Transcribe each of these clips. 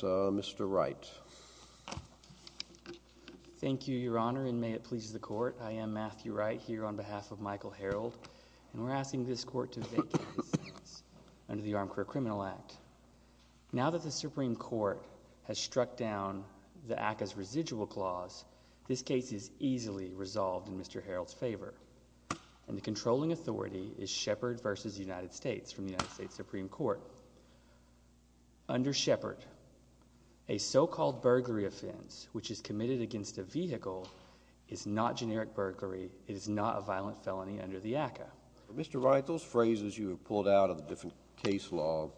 So, Mr. Wright. Thank you, Your Honor, and may it please the Court. I am Matthew Wright here on behalf of Michael Herrold, and we're asking this Court to vacate this case under the Armed Career Criminal Act. Now that the Supreme Court has struck down the ACCA's residual clause, this case is easily resolved in Mr. Herrold's favor, and the controlling authority is Shepard v. United States from the so-called burglary offense, which is committed against a vehicle, is not generic burglary. It is not a violent felony under the ACCA. Mr. Wright, those phrases you have pulled out of the different case law,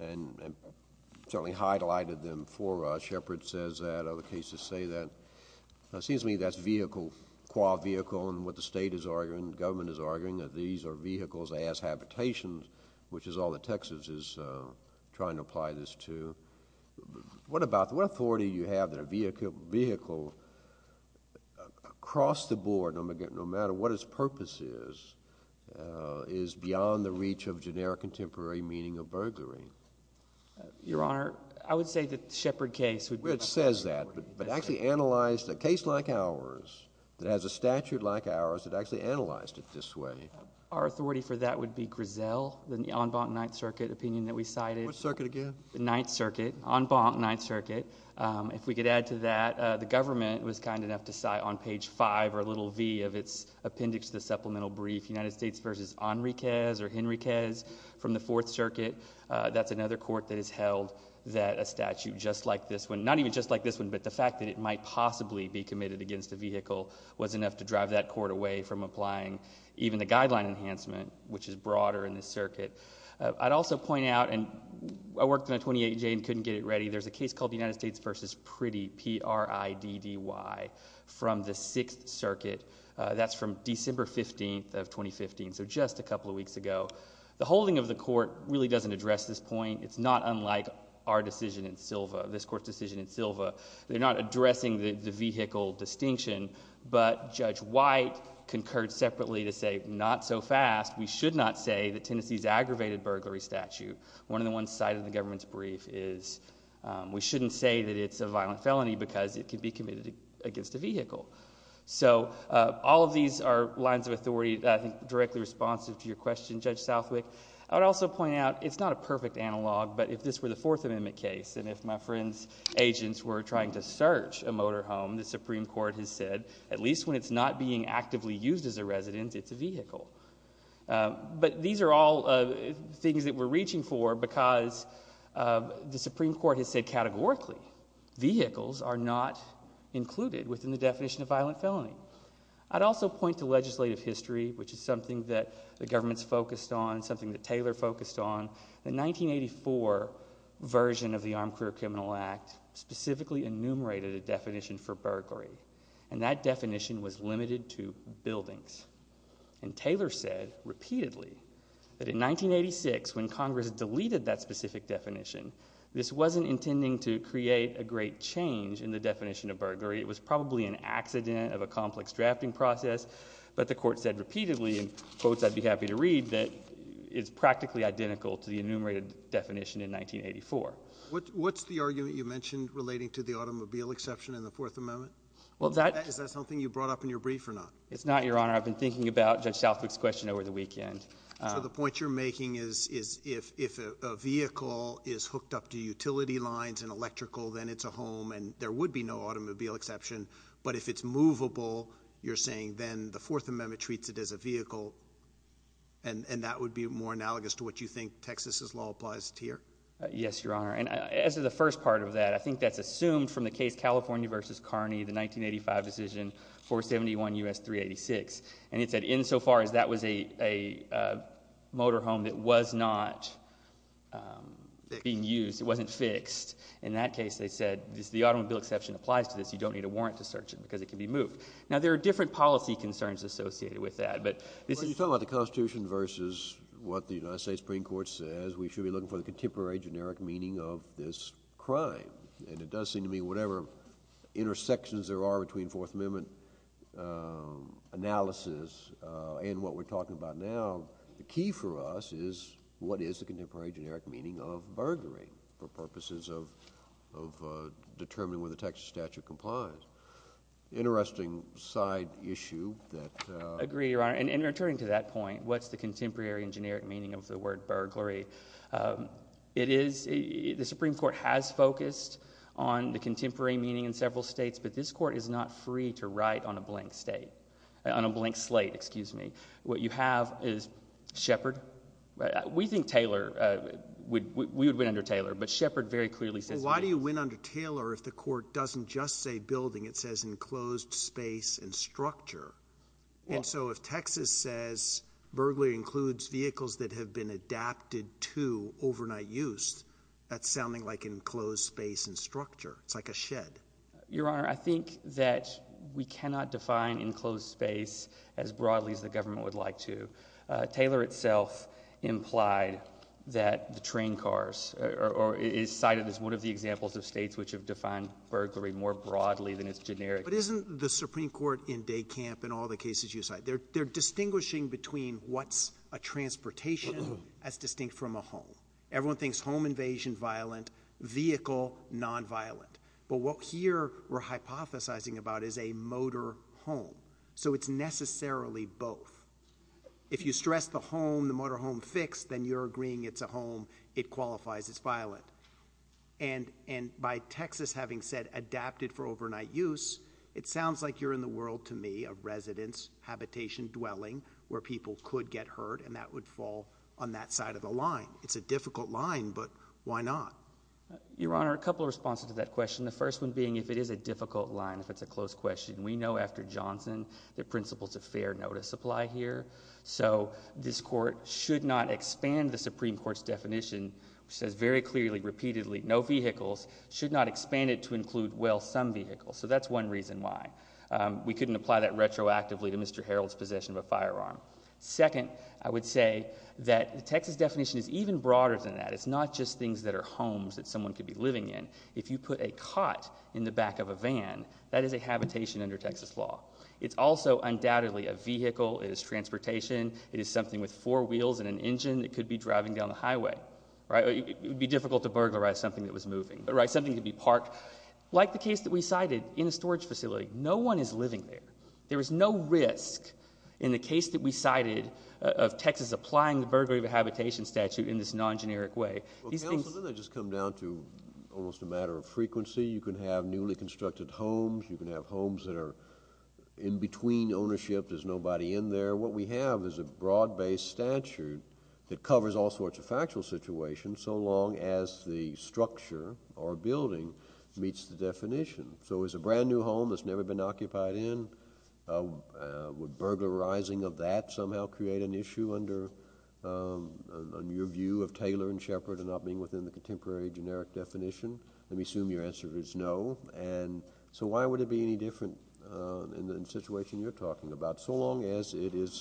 and certainly highlighted them for us. Shepard says that. Other cases say that. It seems to me that's vehicle, qua vehicle, and what the state is arguing, the government is arguing, that these are vehicles as habitations, which is all that Texas is trying to apply this to. What authority do you have that a vehicle across the board, no matter what its purpose is, is beyond the reach of generic and temporary meaning of burglary? Your Honor, I would say that the Shepard case would be... Which says that, but actually analyzed a case like ours, that has a statute like ours, that actually analyzed it this way. Our authority for that would be Griselle, the en banc Ninth Circuit opinion that we cited. What circuit again? Ninth Circuit, en banc Ninth Circuit. If we could add to that, the government was kind enough to cite on page five, or little v, of its appendix to the supplemental brief, United States versus Enriquez or Henriquez from the Fourth Circuit. That's another court that has held that a statute just like this one, not even just like this one, but the fact that it might possibly be committed against a vehicle, was enough to drive that court away from applying even the guideline enhancement, which is broader in this circuit. I'd also point out, and I worked on a 28J and couldn't get it ready, there's a case called the United States versus Priddy, P-R-I-D-D-Y, from the Sixth Circuit. That's from December 15th of 2015, so just a couple of weeks ago. The holding of the court really doesn't address this point. It's not unlike our decision in Silva, this court's decision in Silva. They're not addressing the vehicle distinction, but Judge White concurred separately to say, not so fast, we should not say that Tennessee's aggravated burglary statute, one of the ones cited in the government's brief, is we shouldn't say that it's a violent felony because it could be committed against a vehicle. So all of these are lines of authority, I think, directly responsive to your question, Judge Southwick. I would also point out, it's not a perfect analog, but if this were the Fourth Amendment case, and if my friend's agents were trying to search a vehicle, it's not being actively used as a resident, it's a vehicle. But these are all things that we're reaching for because the Supreme Court has said categorically, vehicles are not included within the definition of violent felony. I'd also point to legislative history, which is something that the government's focused on, something that Taylor focused on. The 1984 version of the Armed Career Criminal Act specifically enumerated a definition for burglary, and that definition was limited to buildings. And Taylor said, repeatedly, that in 1986, when Congress deleted that specific definition, this wasn't intending to create a great change in the definition of burglary. It was probably an accident of a complex drafting process, but the Court said repeatedly, in quotes I'd be happy to read, that it's practically identical to the enumerated definition in 1984. What's the argument you mentioned relating to the automobile exception in the Fourth Amendment? Is that something you brought up in your brief or not? It's not, Your Honor. I've been thinking about Judge Southwick's question over the weekend. So the point you're making is if a vehicle is hooked up to utility lines and electrical, then it's a home, and there would be no automobile exception. But if it's movable, you're saying then the Fourth Amendment treats it as a vehicle, and that would be more analogous to what you think Texas's law applies to here? Yes, Your Honor. And as of the first part of that, I think that's assumed from the case California v. Kearney, the 1985 decision, 471 U.S. 386. And it said, insofar as that was a motorhome that was not being used, it wasn't fixed, in that case, they said, the automobile exception applies to this. You don't need a warrant to search it because it can be moved. Now, there are different policy concerns associated with that. But you're talking about the Constitution versus what the United States Supreme Court says we should be looking for the contemporary generic meaning of this crime. And it does seem to me whatever intersections there are between Fourth Amendment analysis and what we're talking about now, the key for us is what is the contemporary generic meaning of burglary for purposes of determining whether the Texas statute complies. Interesting side issue that— Agree, Your Honor. And in returning to that point, what's the contemporary and generic meaning of the word burglary? It is—the Supreme Court has focused on the contemporary meaning in several states, but this Court is not free to write on a blank state—on a blank slate, excuse me. What you have is Shepard. We think Taylor—we would win under Taylor, but Shepard very clearly says— Why do you win under Taylor if the Court doesn't just say building? It says enclosed space and structure. And so if Texas says burglary includes vehicles that have been adapted to overnight use, that's sounding like enclosed space and structure. It's like a shed. Your Honor, I think that we cannot define enclosed space as broadly as the government would like to. Taylor itself implied that the train cars—or is cited as one of the examples of states which have defined burglary more broadly than it's generic. But isn't the Supreme Court in Decamp and all the cases you cite, they're distinguishing between what's a transportation as distinct from a home. Everyone thinks home invasion, violent. Vehicle, nonviolent. But what here we're hypothesizing about is a motor home. So it's necessarily both. If you stress the home, the motor home fix, then you're agreeing it's a home. It qualifies as violent. And by Texas having said adapted for overnight use, it sounds like you're in the world to me of residence, habitation, dwelling, where people could get hurt, and that would fall on that side of the line. It's a difficult line, but why not? Your Honor, a couple of responses to that question. The first one being if it is a difficult line, if it's a close question. We know after Johnson that principles of fair notice apply here. So this Court should not expand the Supreme Court's definition, which says very clearly, repeatedly, no vehicles, should not expand it to include, well, some vehicles. So that's one reason why. We couldn't apply that retroactively to Mr. Harreld's possession of a firearm. Second, I would say that the Texas definition is even broader than that. It's not just things that are homes that someone could be living in. If you put a cot in the back of a van, that is a habitation under Texas law. It's also, undoubtedly, a vehicle. It is transportation. It is something with four wheels and an engine that could be driving down the highway, right? It would be difficult to burglarize something that was moving, right? Something could be parked. Like the case that we cited in a storage facility, no one is living there. There is no risk in the case that we cited of Texas applying the burglary of a habitation statute in this non-generic way. Well, counsel, doesn't that just come down to almost a matter of frequency? You can have newly constructed homes. You can have homes that are in between ownership. There's nobody in there. What we have is a broad-based statute that covers all sorts of factual situations, so long as the structure or building meets the definition. So is a brand new home that's never been occupied in, would burglarizing of that somehow create an issue under your view of Taylor and Sheppard and not being within the contemporary generic definition? Let me assume your answer is no. So why would it be any different in the situation you're in?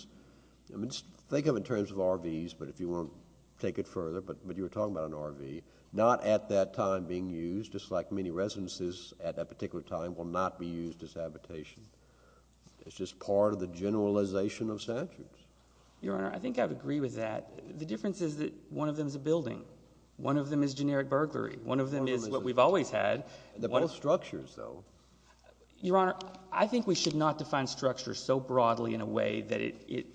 I mean, think of it in terms of RVs, but if you want to take it further, but you were talking about an RV. Not at that time being used, just like many residences at that particular time will not be used as habitation. It's just part of the generalization of statutes. Your Honor, I think I would agree with that. The difference is that one of them is a building. One of them is generic burglary. One of them is what we've always had. They're both structures, though. Your Honor, I think we should not define structure so broadly in a way that it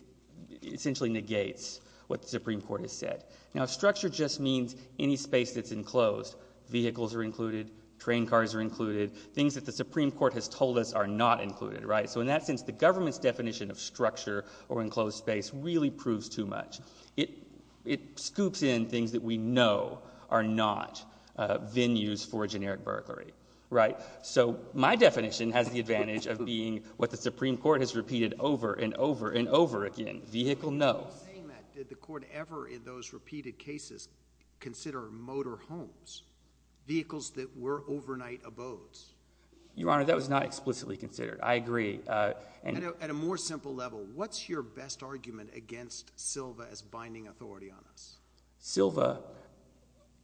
essentially negates what the Supreme Court has said. Now, structure just means any space that's enclosed. Vehicles are included. Train cars are included. Things that the Supreme Court has told us are not included, right? So in that sense, the government's definition of structure or enclosed space really proves too much. It scoops in things that we know are not venues for generic burglary, right? So my definition has the advantage of being what the Supreme Court has repeated over and over and over again. Vehicle, no. I'm not saying that. Did the Court ever, in those repeated cases, consider motor homes, vehicles that were overnight abodes? Your Honor, that was not explicitly considered. I agree. At a more simple level, what's your best argument against Silva as binding authority on this? Silva,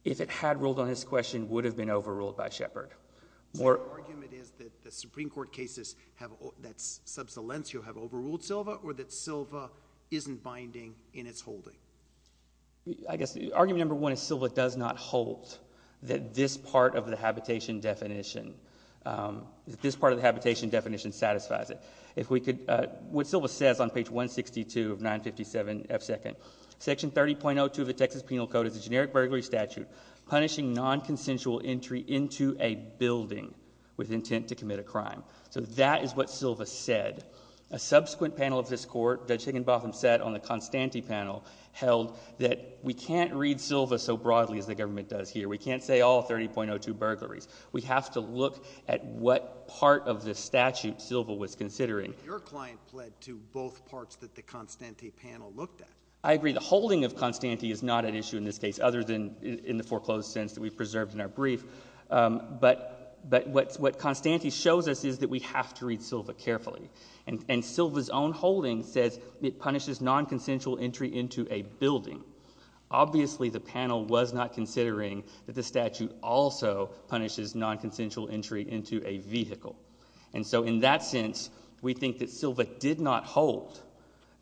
if it had ruled on this question, would have been overruled by Shepard. So your argument is that the Supreme Court cases that subsolentio have overruled Silva, or that Silva isn't binding in its holding? I guess argument number one is Silva does not hold that this part of the habitation definition satisfies it. What Silva says on page 162 of 957F2, Section 30.02 of the Texas Penal Code is a generic burglary statute punishing nonconsensual entry into a building with intent to commit a crime. So that is what Silva said. A subsequent panel of this Court, Judge Higginbotham sat on the Constante panel, held that we can't read Silva so broadly as the government does here. We can't say all 30.02 burglaries. We have to look at what part of the statute Silva was considering. Your client pled to both parts that the Constante panel looked at. I agree. The holding of Constante is not an issue in this case, other than in the foreclosed sense that we've preserved in our brief. But what Constante shows us is that we have to read Silva carefully. And Silva's own holding says it punishes nonconsensual entry into a building. Obviously, the panel was not considering that the statute also punishes nonconsensual entry into a vehicle. And so in that sense, we think that Silva did not hold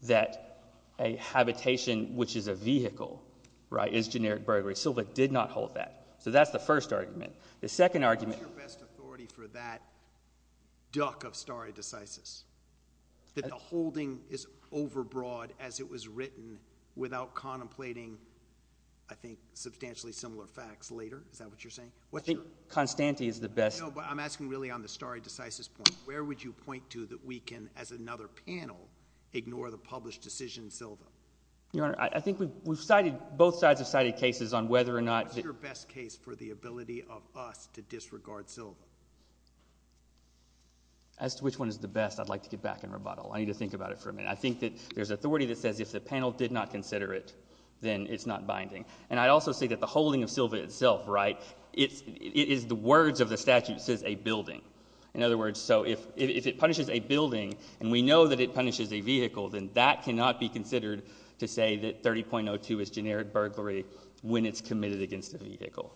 that a habitation, which is a vehicle, right, is generic burglary. Silva did not hold that. So that's the first argument. The second argument— What's your best authority for that duck of stare decisis? That the holding is overbroad as it was written without contemplating, I think, substantially similar facts later. Is that what you're saying? I think Constante is the best— No, but I'm asking really on the stare decisis point. Where would you point to that we can, as another panel, ignore the published decision Silva? Your Honor, I think we've cited—both sides have cited cases on whether or not— What's your best case for the ability of us to disregard Silva? As to which one is the best, I'd like to get back in rebuttal. I need to think about it for a minute. I think that there's authority that says if the panel did not consider it, then it's not binding. And I'd also say that the holding of Silva itself, right, it is the words of the statute says a building. In other words, so if it punishes a building, and we know that it punishes a vehicle, then that cannot be considered to say that 30.02 is generic burglary when it's committed against a vehicle.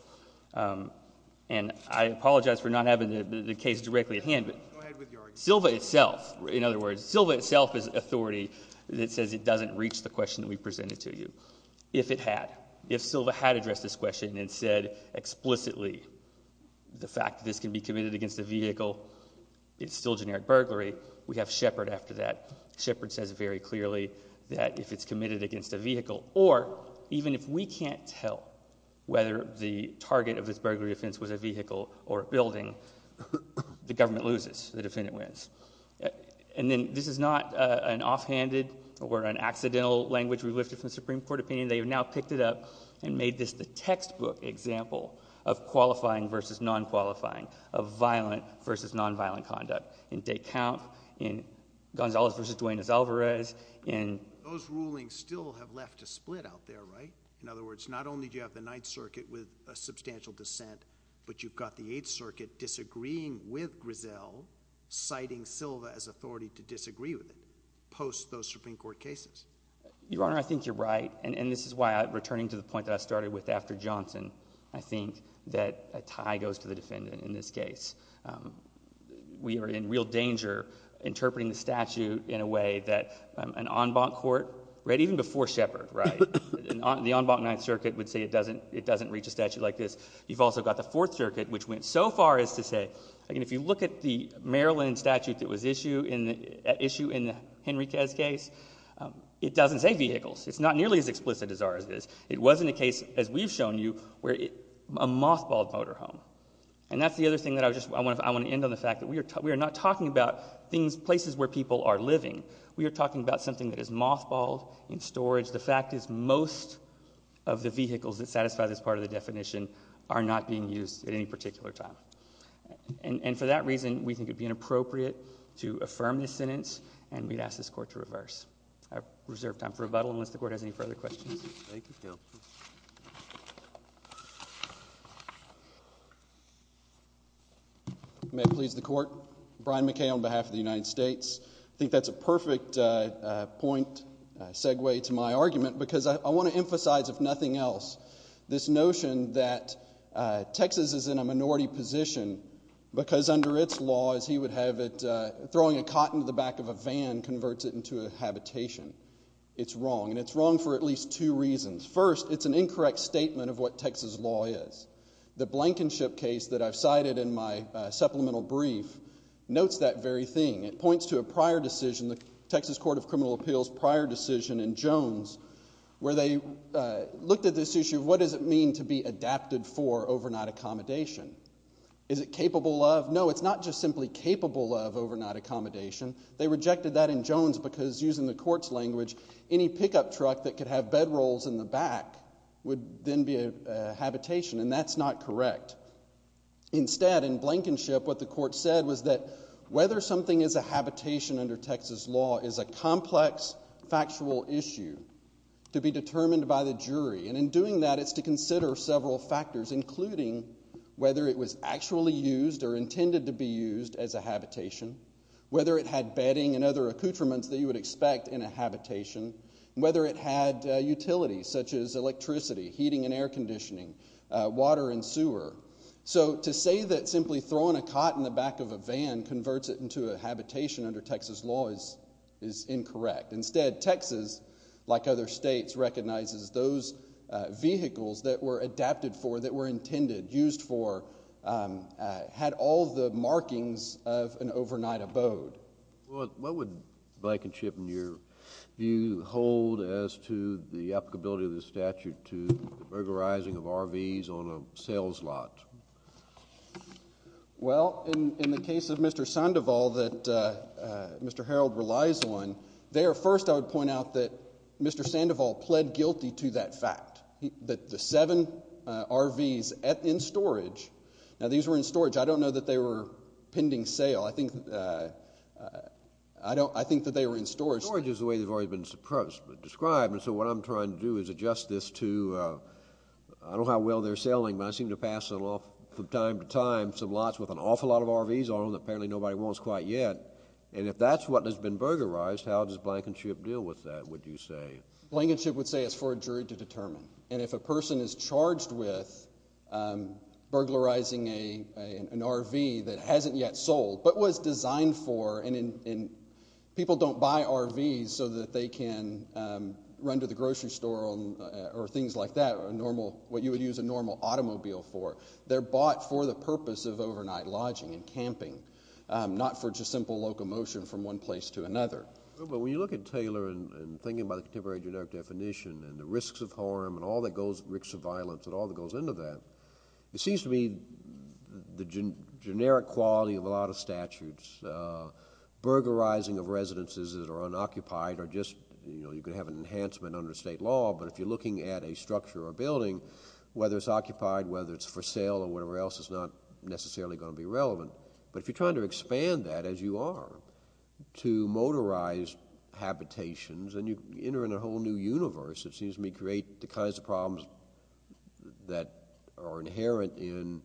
And I apologize for not having the case directly at hand, but— Go ahead with your argument. Silva itself, in other words, Silva itself is authority that says it doesn't reach the question that we presented to you. If it had, if Silva had addressed this question and said explicitly the fact that this can be committed against a vehicle, it's still generic burglary, we have Shepard after that. Shepard says very clearly that if it's committed against a vehicle, or even if we can't tell whether the target of this burglary offense was a vehicle or a building, the government loses, the defendant wins. And then this is not an offhanded or an accidental language we lifted from the Supreme Court opinion. They have now picked it up and made this the textbook example of qualifying versus non-qualifying, of violent versus non-violent conduct. In Descamp, in Gonzales versus Duenas Alvarez, in— Those rulings still have left a split out there, right? In other words, not only do you have the Ninth Circuit with a substantial dissent, but you've got the Eighth Circuit disagreeing with Griselle, citing Silva as authority to disagree with it, post those Supreme Court cases. Your Honor, I think you're right, and this is why, returning to the point that I started with after Johnson, I think that a tie goes to the defendant in this case. We are in real danger interpreting the statute in a way that an en banc court, right, even before Shepard, right, the en banc Ninth Circuit would say it doesn't reach a statute like this. You've also got the Fourth Circuit, which went so far as to say, I mean, if you look at the Maryland statute that was issued in the Henry Kez case, it doesn't say vehicles. It's not nearly as explicit as ours is. It wasn't a case, as we've shown you, where it—a mothballed motorhome. And that's the other thing that I just—I want to end on the fact that we are not talking about things—places where people are living. We are talking about something that is mothballed, in storage. The fact is, most of the vehicles that satisfy this part of the definition are not being used at any particular time. And for that reason, we think it would be inappropriate to affirm this sentence, and we'd ask this Court to reverse. I reserve time for rebuttal, unless the Court has any further questions. Thank you, Counsel. May it please the Court. Brian McKay on behalf of the United States. I think that's a perfect point, a segue to my argument, because I want to emphasize, if nothing else, this notion that Texas is in a minority position because under its laws, he would have it—throwing a cotton to the back of a van converts it into a habitation. It's wrong, and it's wrong for at least two reasons. First, it's an incorrect statement of what Texas law is. The Blankenship case that I've cited in my supplemental brief notes that very thing. It points to a prior decision, the Texas Court of Criminal Appeals prior decision in Jones, where they looked at this issue of what does it mean to be adapted for overnight accommodation. Is it capable of? No, it's not just simply capable of overnight accommodation. They rejected that in Jones because using the Court's language, any pickup truck that could have bedrolls in the back would then be a habitation, and that's not correct. Instead, in Blankenship, what the Court said was whether something is a habitation under Texas law is a complex, factual issue to be determined by the jury, and in doing that, it's to consider several factors, including whether it was actually used or intended to be used as a habitation, whether it had bedding and other accoutrements that you would expect in a habitation, whether it had utilities such as electricity, heating and air conditioning, water and sewer. So to say that simply throwing a cot in the back of a van converts it into a habitation under Texas law is incorrect. Instead, Texas, like other states, recognizes those vehicles that were adapted for, that were intended, used for, had all the markings of an overnight abode. What would Blankenship, in your view, hold as to the applicability of burglarizing of RVs on a sales lot? Well, in the case of Mr. Sandoval that Mr. Harreld relies on, there, first, I would point out that Mr. Sandoval pled guilty to that fact, that the seven RVs in storage, now these were in storage. I don't know that they were pending sale. I think that they were in storage. Storage is the way they've already been described, and so what I'm trying to do is adjust this to, I don't know how well they're selling, but I seem to pass it off from time to time, some lots with an awful lot of RVs on them that apparently nobody wants quite yet, and if that's what has been burglarized, how does Blankenship deal with that, would you say? Blankenship would say it's for a jury to determine, and if a person is charged with burglarizing an RV that hasn't yet sold, but was designed for, and people don't buy RVs so that they can run to the grocery store or things like that, what you would use a normal automobile for, they're bought for the purpose of overnight lodging and camping, not for just simple locomotion from one place to another. But when you look at Taylor and thinking about the contemporary generic definition and the risks of harm and all that goes, risks of violence, and all that goes into that, it seems to me the generic quality of a lot of statutes, burglarizing of residences that are unoccupied or just, you know, you could have an enhancement under state law, but if you're looking at a structure or building, whether it's occupied, whether it's for sale or whatever else, is not necessarily going to be relevant. But if you're trying to expand that as you are to motorized habitations, and you enter in a whole new universe, it seems to me create the kinds of problems that are inherent in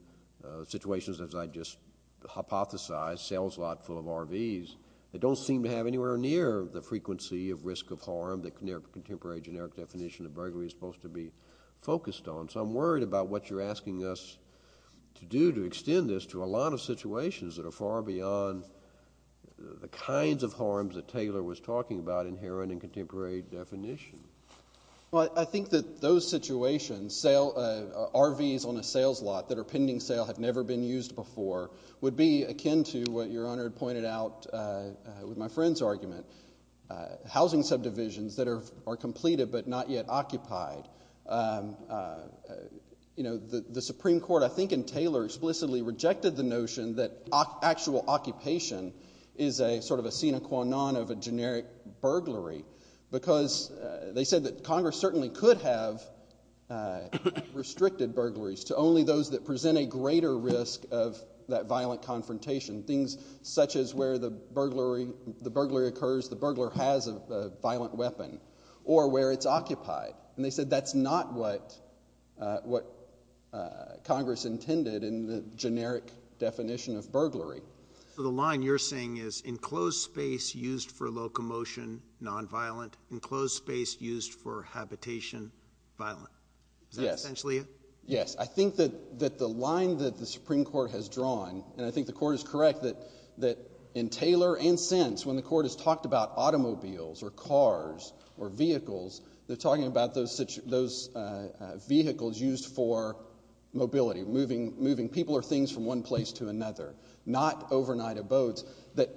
situations as I just hypothesized, sales lot full of RVs, that don't seem to have anywhere near the frequency of risk of harm that contemporary generic definition of burglary is supposed to be focused on. So I'm worried about what you're asking us to do to extend this to a lot of situations that are far beyond the kinds of harms that Taylor was talking about inherent in contemporary definition. Well, I think that those situations, RVs on a sales lot that are would be akin to what Your Honor pointed out with my friend's argument, housing subdivisions that are completed but not yet occupied. You know, the Supreme Court, I think, in Taylor explicitly rejected the notion that actual occupation is a sort of a sine qua non of a generic burglary because they said that Congress certainly could have restricted burglaries to only those that present a greater risk of that violent confrontation, things such as where the burglary occurs, the burglar has a violent weapon, or where it's occupied. And they said that's not what Congress intended in the generic definition of burglary. So the line you're saying is enclosed space used for locomotion, nonviolent, enclosed space used for habitation, violent. Is that essentially it? Yes. I think that the line that the Supreme Court has drawn, and I think the Court is correct that in Taylor and since when the Court has talked about automobiles or cars or vehicles, they're talking about those vehicles used for mobility, moving people or things from one place to another, not overnight abodes, that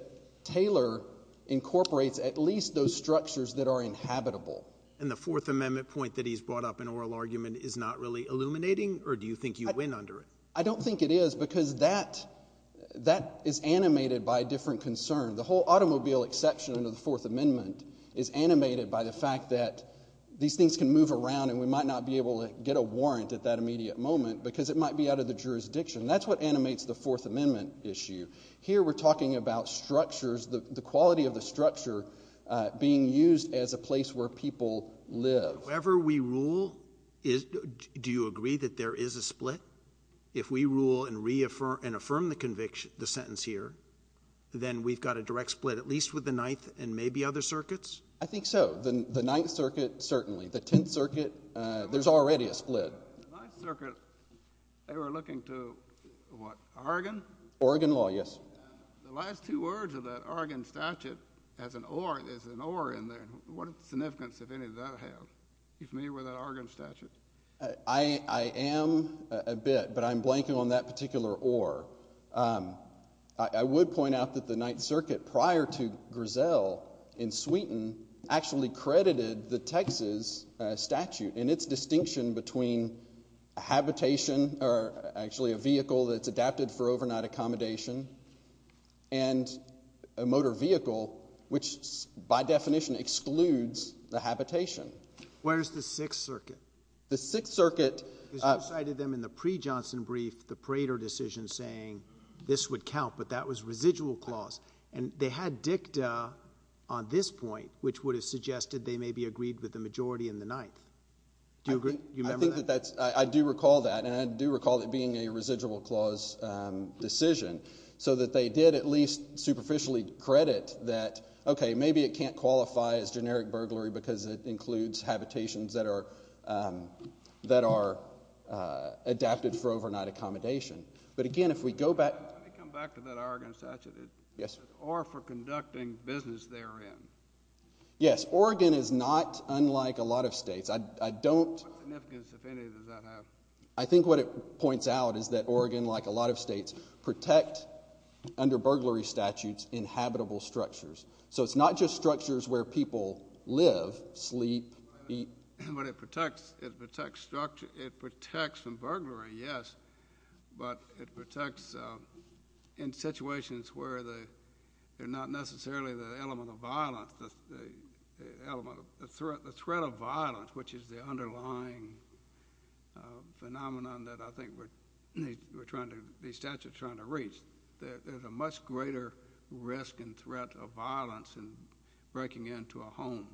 Taylor incorporates at least those structures that are inhabitable. And the Fourth Amendment point that he's brought up in oral argument is not really illuminating or do you think you win under it? I don't think it is because that that is animated by a different concern. The whole automobile exception of the Fourth Amendment is animated by the fact that these things can move around and we might not be able to get a warrant at that immediate moment because it might be out of the jurisdiction. That's what animates the Fourth Amendment issue. Here we're talking about structures, the quality of the structure being used as a place where people live. However we rule, do you agree that there is a split? If we rule and reaffirm and affirm the conviction, the sentence here, then we've got a direct split at least with the Ninth and maybe other circuits? I think so. The Ninth Circuit, certainly. The Tenth Circuit, there's already a split. The Ninth Circuit, they were looking to what, Oregon? Oregon law, yes. The last two words of that Oregon statute as an or, there's an or in there, what significance of any of that have? Are you familiar with that Oregon statute? I am a bit, but I'm blanking on that particular or. I would point out that the Ninth Circuit, prior to Grisel in Sweden, actually credited the Texas statute and its distinction between habitation or actually a vehicle that's adapted for overnight accommodation and a motor vehicle, which by definition excludes the habitation. Where's the Sixth Circuit? The Sixth Circuit. Because you cited them in the pre-Johnson brief, the Prater decision saying this would count, but that was residual clause. And they had dicta on this point, which would have suggested they may be agreed with the majority in the Ninth. Do you agree? Do you remember that? I do recall that, and I do recall it being a residual clause decision, so that they did at least superficially credit that, okay, maybe it can't qualify as generic burglary because it includes habitations that are adapted for overnight accommodation. But again, if we go back. Let me come back to that Oregon statute. Yes. Or for conducting business therein. Yes. Oregon is not unlike a lot of states. I don't. What significance, if any, does that have? I think what it points out is that Oregon, like a lot of states, protect, under burglary statutes, inhabitable structures. So it's not just structures where people live, sleep, eat. But it protects from burglary, yes, but it protects in situations where they're not necessarily the element of violence, the threat of violence, which is the underlying phenomenon that I think we're trying to, these statutes are trying to reach. There's a much greater risk and threat of violence in breaking into a home,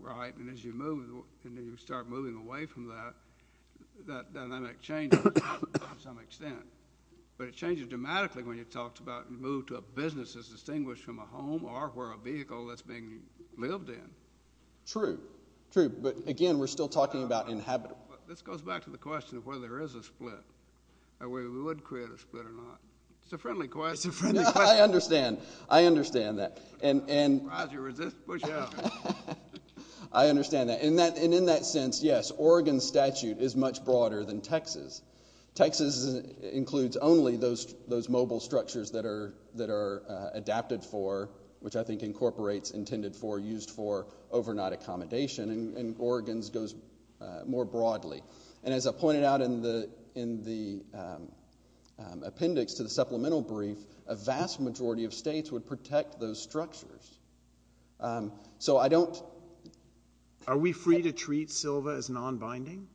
right? And as you move, and you start moving away from that, that dynamic changes to some extent. But it changes dramatically when you talked about move to a business that's distinguished from a home or where a vehicle that's being lived in. True. True. But again, we're still talking about inhabitable. This goes back to the question of whether there is a split, or whether we would create a split or not. It's a friendly question. It's a friendly question. I understand. I understand that. And. I understand that. And in that sense, yes, Oregon statute is much broader than Texas. Texas includes only those mobile structures that are adapted for, which I think incorporates intended for, used for overnight accommodation. And Oregon's goes more broadly. And as I pointed out in the appendix to the supplemental brief, a vast majority of states would protect those structures. So I don't. Are we free to treat Silva as non-binding?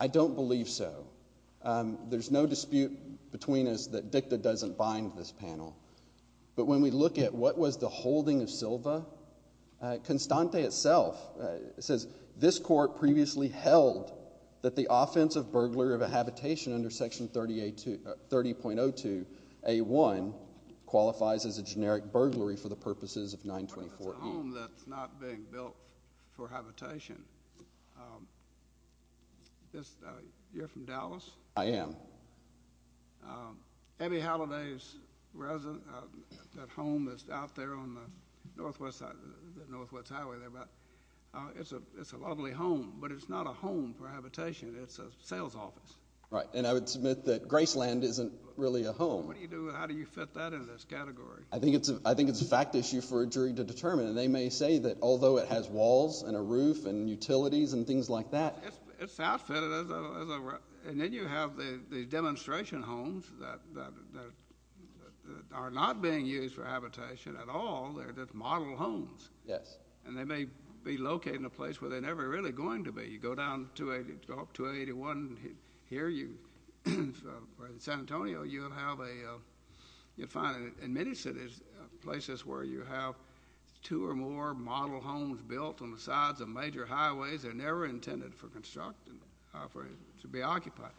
I don't believe so. There's no dispute between us that dicta doesn't bind this panel. But when we look at what was the holding of Silva, Constante itself says this court previously held that the offensive burglary of a habitation under Section 30.02A1 qualifies as a generic burglary for the purposes of 924E. What if it's a home that's not being built for habitation? You're from Dallas? I am. Abbey Halliday's home is out there on the Northwest Highway. It's a lovely home, but it's not a home for habitation. It's a sales office. Right. And I would submit that Graceland isn't really a home. What do you do? How do you fit that in this category? I think it's a fact issue for a jury to determine. And they may say that although it has walls and a roof and utilities and things like that. It's outfitted. And then you have the demonstration homes that are not being used for habitation at all. They're just model homes. Yes. And they may be located in a place where they're never really going to be. You go down to 281 here in San Antonio, you'll find in many cities places where you have two or more model homes built on the sides of major highways. They're never intended for construction, to be occupied.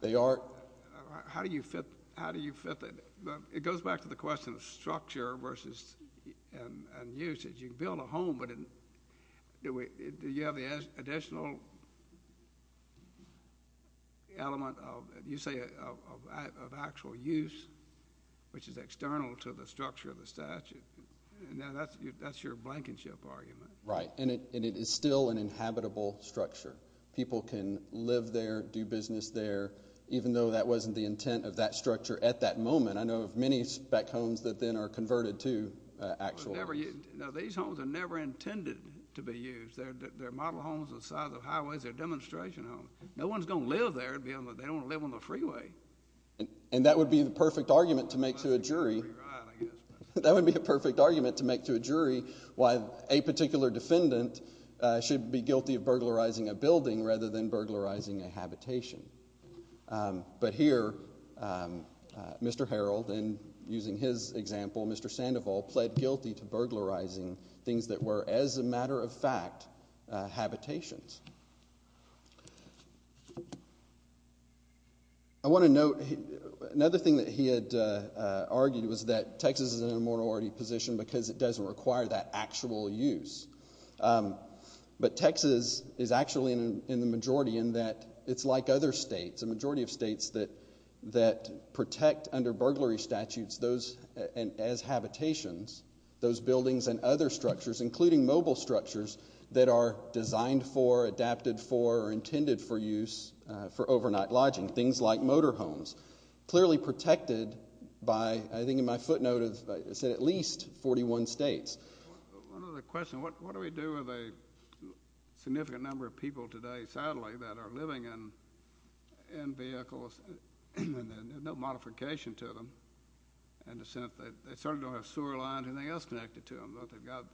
They aren't. How do you fit that? It goes back to the question of structure versus usage. You can build a home, but do you have the additional element of, you say, of actual use, which is external to the structure of the statute? Now, that's your blankenship argument. Right. And it is still an inhabitable structure. People can live there, do business there, even though that wasn't the intent of that structure at that time. And you have these spec homes that then are converted to actual homes. Now, these homes are never intended to be used. They're model homes on the sides of highways. They're demonstration homes. No one's going to live there. They don't want to live on the freeway. And that would be the perfect argument to make to a jury. That would be the perfect argument to make to a jury why a particular defendant should be guilty of burglarizing a building rather than burglarizing a habitation. But here, Mr. Harold, and using his example, Mr. Sandoval, pled guilty to burglarizing things that were, as a matter of fact, habitations. I want to note, another thing that he had argued was that Texas is in a mortality position because it doesn't require that actual use. But Texas is actually in the majority in that it's like other states, a majority of states that protect under burglary statutes those, as habitations, those buildings and other structures, including mobile structures that are designed for, adapted for, or intended for use for overnight lodging, things like motor homes, clearly protected by, I think in my footnote, it said at least 41 states. One other question. What do we do with a significant number of people today, sadly, that are living in vehicles and there's no modification to them in the sense that they certainly don't have sewer lines or anything else connected to them, but they've got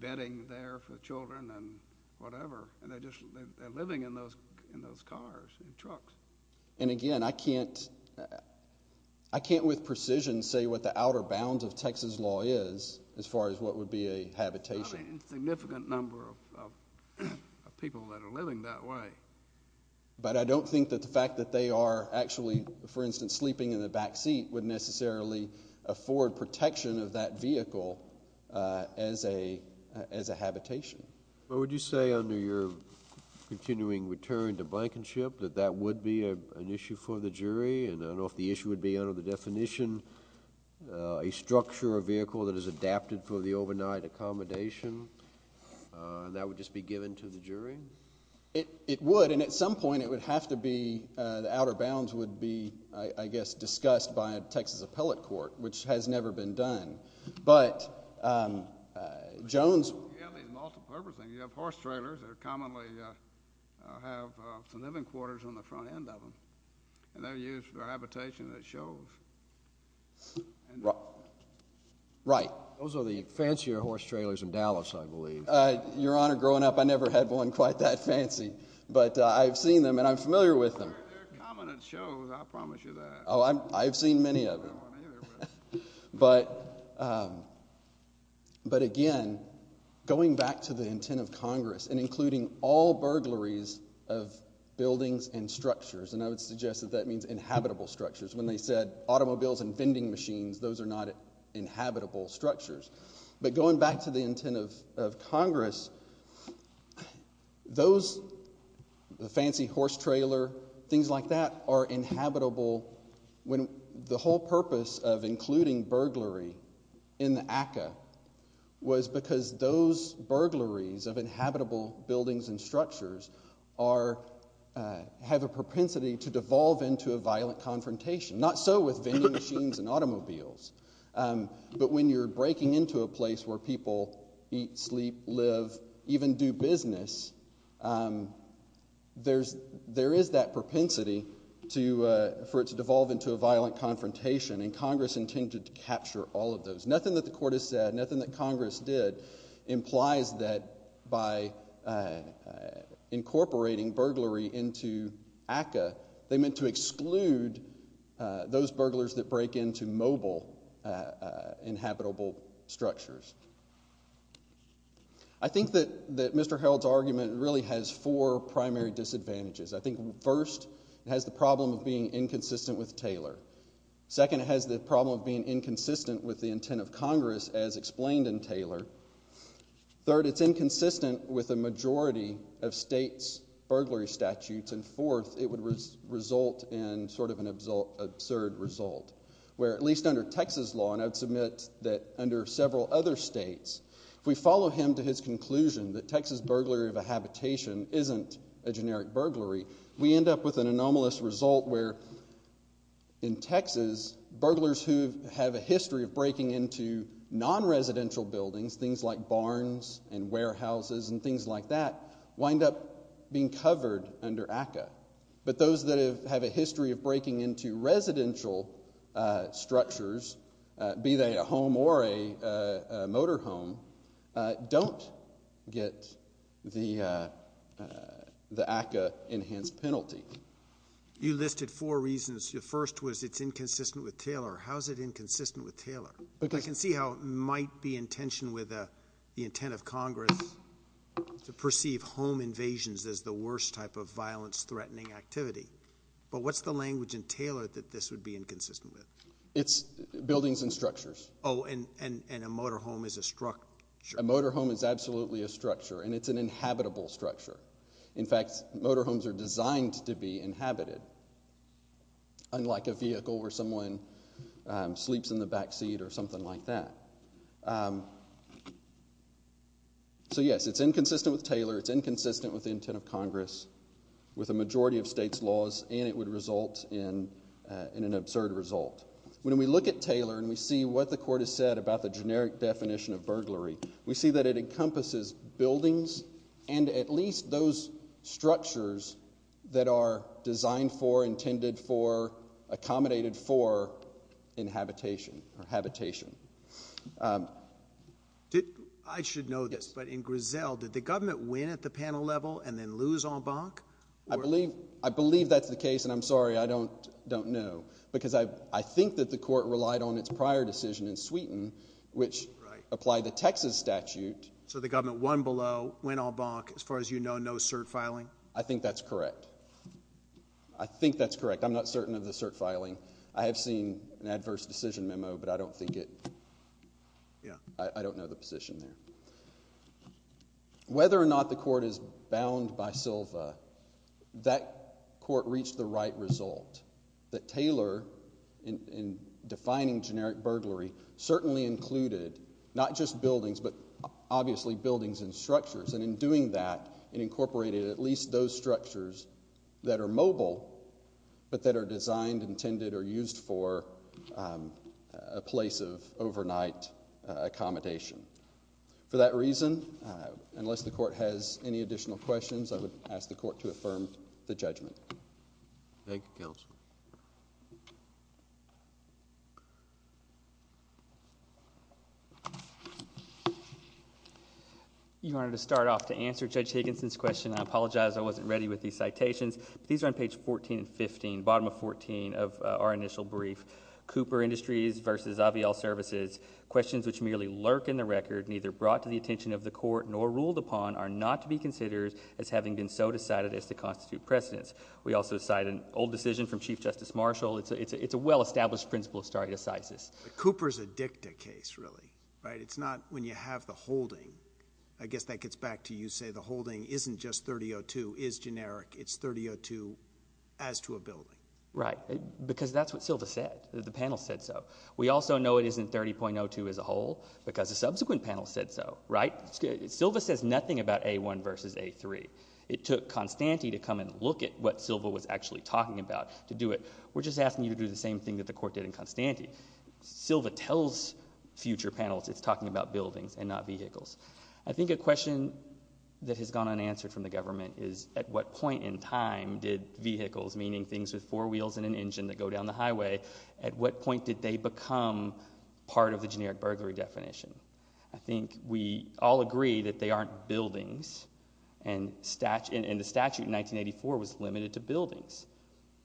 bedding there for children and whatever, and they're just living in those cars and trucks. And again, I can't, I can't with precision say what the outer bounds of Texas law is as far as what would be a habitation. A significant number of people that are living that way. But I don't think that the fact that they are actually, for instance, sleeping in the back seat would necessarily afford protection of that vehicle as a, as a habitation. What would you say under your continuing return to blankenship that that would be an issue for the jury? And I don't know if the issue would be under the definition, a structure or vehicle that is adapted for the overnight accommodation, and that would just be given to the jury? It, it would. And at some point it would have to be, the outer bounds would be, I guess, discussed by a Texas appellate court, which has never been done. But Jones. You have these multi-purpose things. You have horse trailers that commonly have some living quarters on the front end of them, and they're used for habitation that shows. Right. Those are the fancier horse trailers in Dallas, I believe. Your Honor, growing up I never had one quite that fancy, but I've seen them and I'm familiar with them. They're common shows, I promise you that. Oh, I've seen many of them. But, but again, going back to the intent of Congress and including all burglaries of buildings and structures, and I would suggest that that means inhabitable structures. When they said automobiles and vending machines, those are not inhabitable structures. But going back to the intent of, of Congress, those, the fancy horse trailer, things like that are inhabitable when the whole purpose of including burglary in the ACCA was because those burglaries of inhabitable buildings and structures are, have a propensity to devolve into a violent confrontation. Not so with vending machines and automobiles. But when you're breaking into a place where people eat, sleep, live, even do business, there's, there is that propensity to, for it to devolve into a violent confrontation, and Congress intended to capture all of those. Nothing that the Court has said, nothing that Congress did implies that by incorporating burglary into ACCA, they meant to exclude those burglars that break into mobile inhabitable structures. I think that, that Mr. Harold's argument really has four primary disadvantages. I think first, it has the problem of being inconsistent with Taylor. Second, it has the problem of being inconsistent with the intent of Congress, as explained in Taylor. Third, it's inconsistent with a majority of states' burglary statutes, and fourth, it would result in sort of an absurd result, where at least under Texas law, and I'd submit that under several other states, if we follow him to his conclusion that Texas burglary of a habitation isn't a generic burglary, we end up with an anomalous result where, in Texas, burglars who have a history of breaking into non-residential buildings, things like barns and warehouses and things like that, wind up being non-residential structures, be they a home or a motor home, don't get the ACCA-enhanced penalty. You listed four reasons. The first was it's inconsistent with Taylor. How is it inconsistent with Taylor? I can see how it might be in tension with the intent of Congress to perceive home invasions as the worst type of violence-threatening activity, but what's the language in Taylor that this would be inconsistent with? It's buildings and structures. Oh, and a motor home is a structure. A motor home is absolutely a structure, and it's an inhabitable structure. In fact, motor homes are designed to be inhabited, unlike a vehicle where someone sleeps in the backseat or something like that. So, yes, it's inconsistent with Taylor. It's inconsistent with Taylor. It's inconsistent with Taylor. It's inconsistent with Taylor. It's inconsistent with Taylor. It's inconsistent with Taylor. It's inconsistent with Taylor. When we look at Taylor, and we see what the Court has said about the generic definition of burglary, we see that it encompasses buildings and at least those structures that are designed for, intended for, accommodated for, in habitation. I should know this, but in Griselle, did the case, and I'm sorry, I don't know, because I think that the Court relied on its prior decision in Sweden, which applied the Texas statute. So the government won below, went en banc, as far as you know, no cert filing? I think that's correct. I think that's correct. I'm not certain of the cert filing. I have seen an adverse decision memo, but I don't think it, I don't know the position there. Whether or not the Court is bound by Silva, that Court reached the right result, that Taylor, in defining generic burglary, certainly included not just buildings, but obviously buildings and structures. And in doing that, it incorporated at least those structures that are mobile, but that are designed, intended, or used for a place of overnight accommodation. For that reason, unless the Court has any additional questions, I would ask the Court to affirm the judgment. Thank you, Counselor. Your Honor, to start off to answer Judge Higginson's question, I apologize I wasn't ready with these citations. These are on page 14 and 15, bottom of 14 of our initial brief. Cooper Industries versus IVL Services, questions which merely lurk in the record, neither brought to the attention of the Court nor ruled upon, are not to be considered as having been so decided as to constitute precedence. We also cite an old decision from Chief Justice Marshall. It's a well-established principle of stare decisis. Cooper's a dicta case, really, right? It's not when you have the holding. I guess that gets back to you, say the holding isn't just 3002, is generic, it's 3002 as to a building. Right, because that's what Silva said. The panel said so. We also know it isn't 30.02 as a whole, because the subsequent panel said so, right? Silva says nothing about A1 versus A3. It took Constante to come and look at what Silva was actually talking about to do it. We're just asking you to do the same thing that the Court did in Constante. Silva tells future panels it's talking about buildings and not vehicles. I think a question that has gone unanswered from the government is at what point in time did vehicles, meaning things with four wheels and an engine that go down the highway, at what point did they become part of the generic burglary definition? I think we all agree that they aren't buildings, and the statute in 1984 was limited to buildings.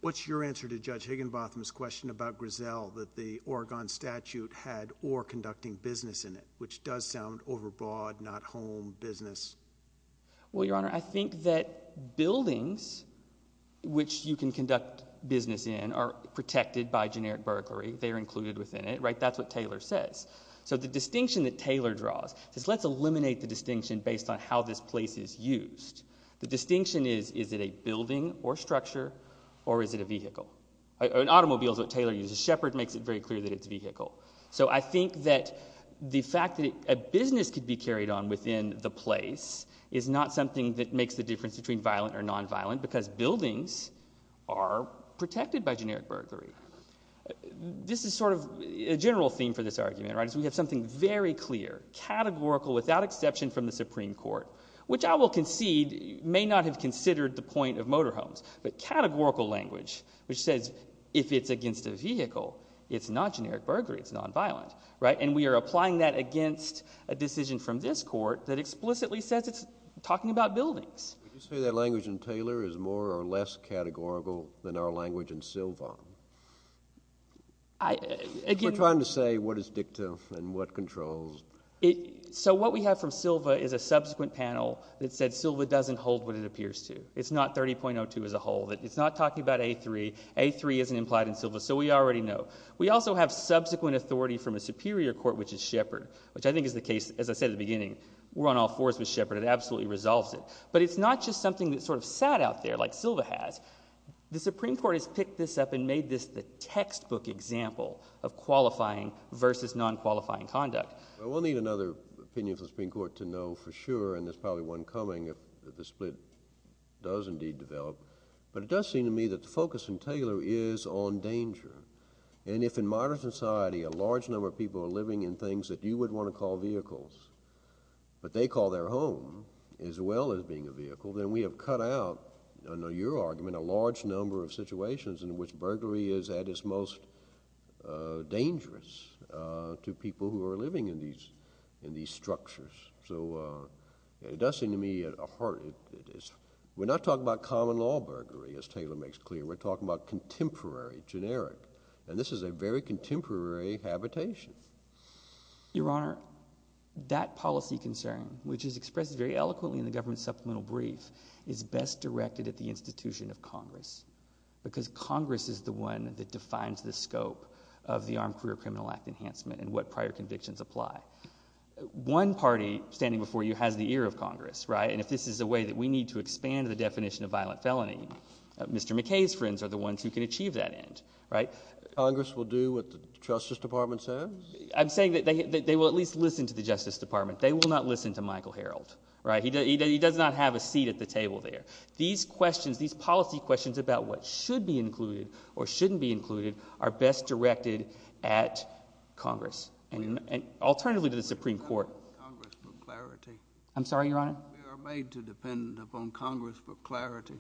What's your answer to Judge Higginbotham's question about Griselle that the Oregon statute had or conducting business in it, which does sound overbroad, not home business? Well, Your Honor, I think that buildings which you can conduct business in are protected by generic burglary. They are included within it, right? That's what Taylor says. So the distinction that Taylor draws is let's eliminate the distinction based on how this place is used. The distinction is, is it a building or structure or is it a vehicle? An automobile is what Taylor uses. Shepherd makes it very clear that it's a vehicle. So I think that the fact that a business could be carried on within the place is not something that makes the difference between violent or non-violent because buildings are protected by generic burglary. This is sort of a general theme for this argument, right, is we have something very clear, categorical, without exception from the Supreme Court, which I will concede may not have considered the point of motor homes, but categorical language, which says if it's against a vehicle, it's not generic burglary, it's non-violent, right? And we are applying that against a decision from this court that explicitly says it's talking about buildings. Would you say that language in Taylor is more or less categorical than our language in Silva? We're trying to say what is dictum and what controls. So what we have from Silva is a subsequent panel that said Silva doesn't hold what it appears to. It's not 30.02 as a whole. It's not talking about A3. A3 isn't implied in We also have subsequent authority from a superior court, which is Shepard, which I think is the case, as I said at the beginning, we're on all fours with Shepard. It absolutely resolves it. But it's not just something that sort of sat out there like Silva has. The Supreme Court has picked this up and made this the textbook example of qualifying versus non-qualifying conduct. We'll need another opinion from the Supreme Court to know for sure, and there's probably one coming if the split does indeed develop. But it does seem to me that the And if in modern society, a large number of people are living in things that you would want to call vehicles, but they call their home as well as being a vehicle, then we have cut out, I know your argument, a large number of situations in which burglary is at its most dangerous to people who are living in these in these structures. So it does seem to me a heart. We're not talking about common law burglary, as Taylor makes clear. We're talking about generic. And this is a very contemporary habitation. Your Honor, that policy concern, which is expressed very eloquently in the government supplemental brief, is best directed at the institution of Congress, because Congress is the one that defines the scope of the Armed Career Criminal Act enhancement and what prior convictions apply. One party standing before you has the ear of Congress, right? And if this is a way that we need to expand the definition of Congress will do what the Justice Department says. I'm saying that they will at least listen to the Justice Department. They will not listen to Michael Harreld, right? He does not have a seat at the table there. These questions, these policy questions about what should be included, or shouldn't be included, are best directed at Congress and alternatively to the Supreme Court. I'm sorry, Your Honor, made to depend upon Congress for clarity.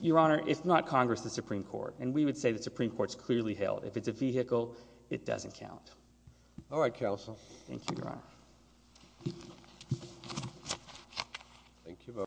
Your Honor, if not Congress, the Supreme Court. And we would say the Supreme Court's clearly hailed. If it's a vehicle, it doesn't count. All right, counsel. Thank you, Your Honor.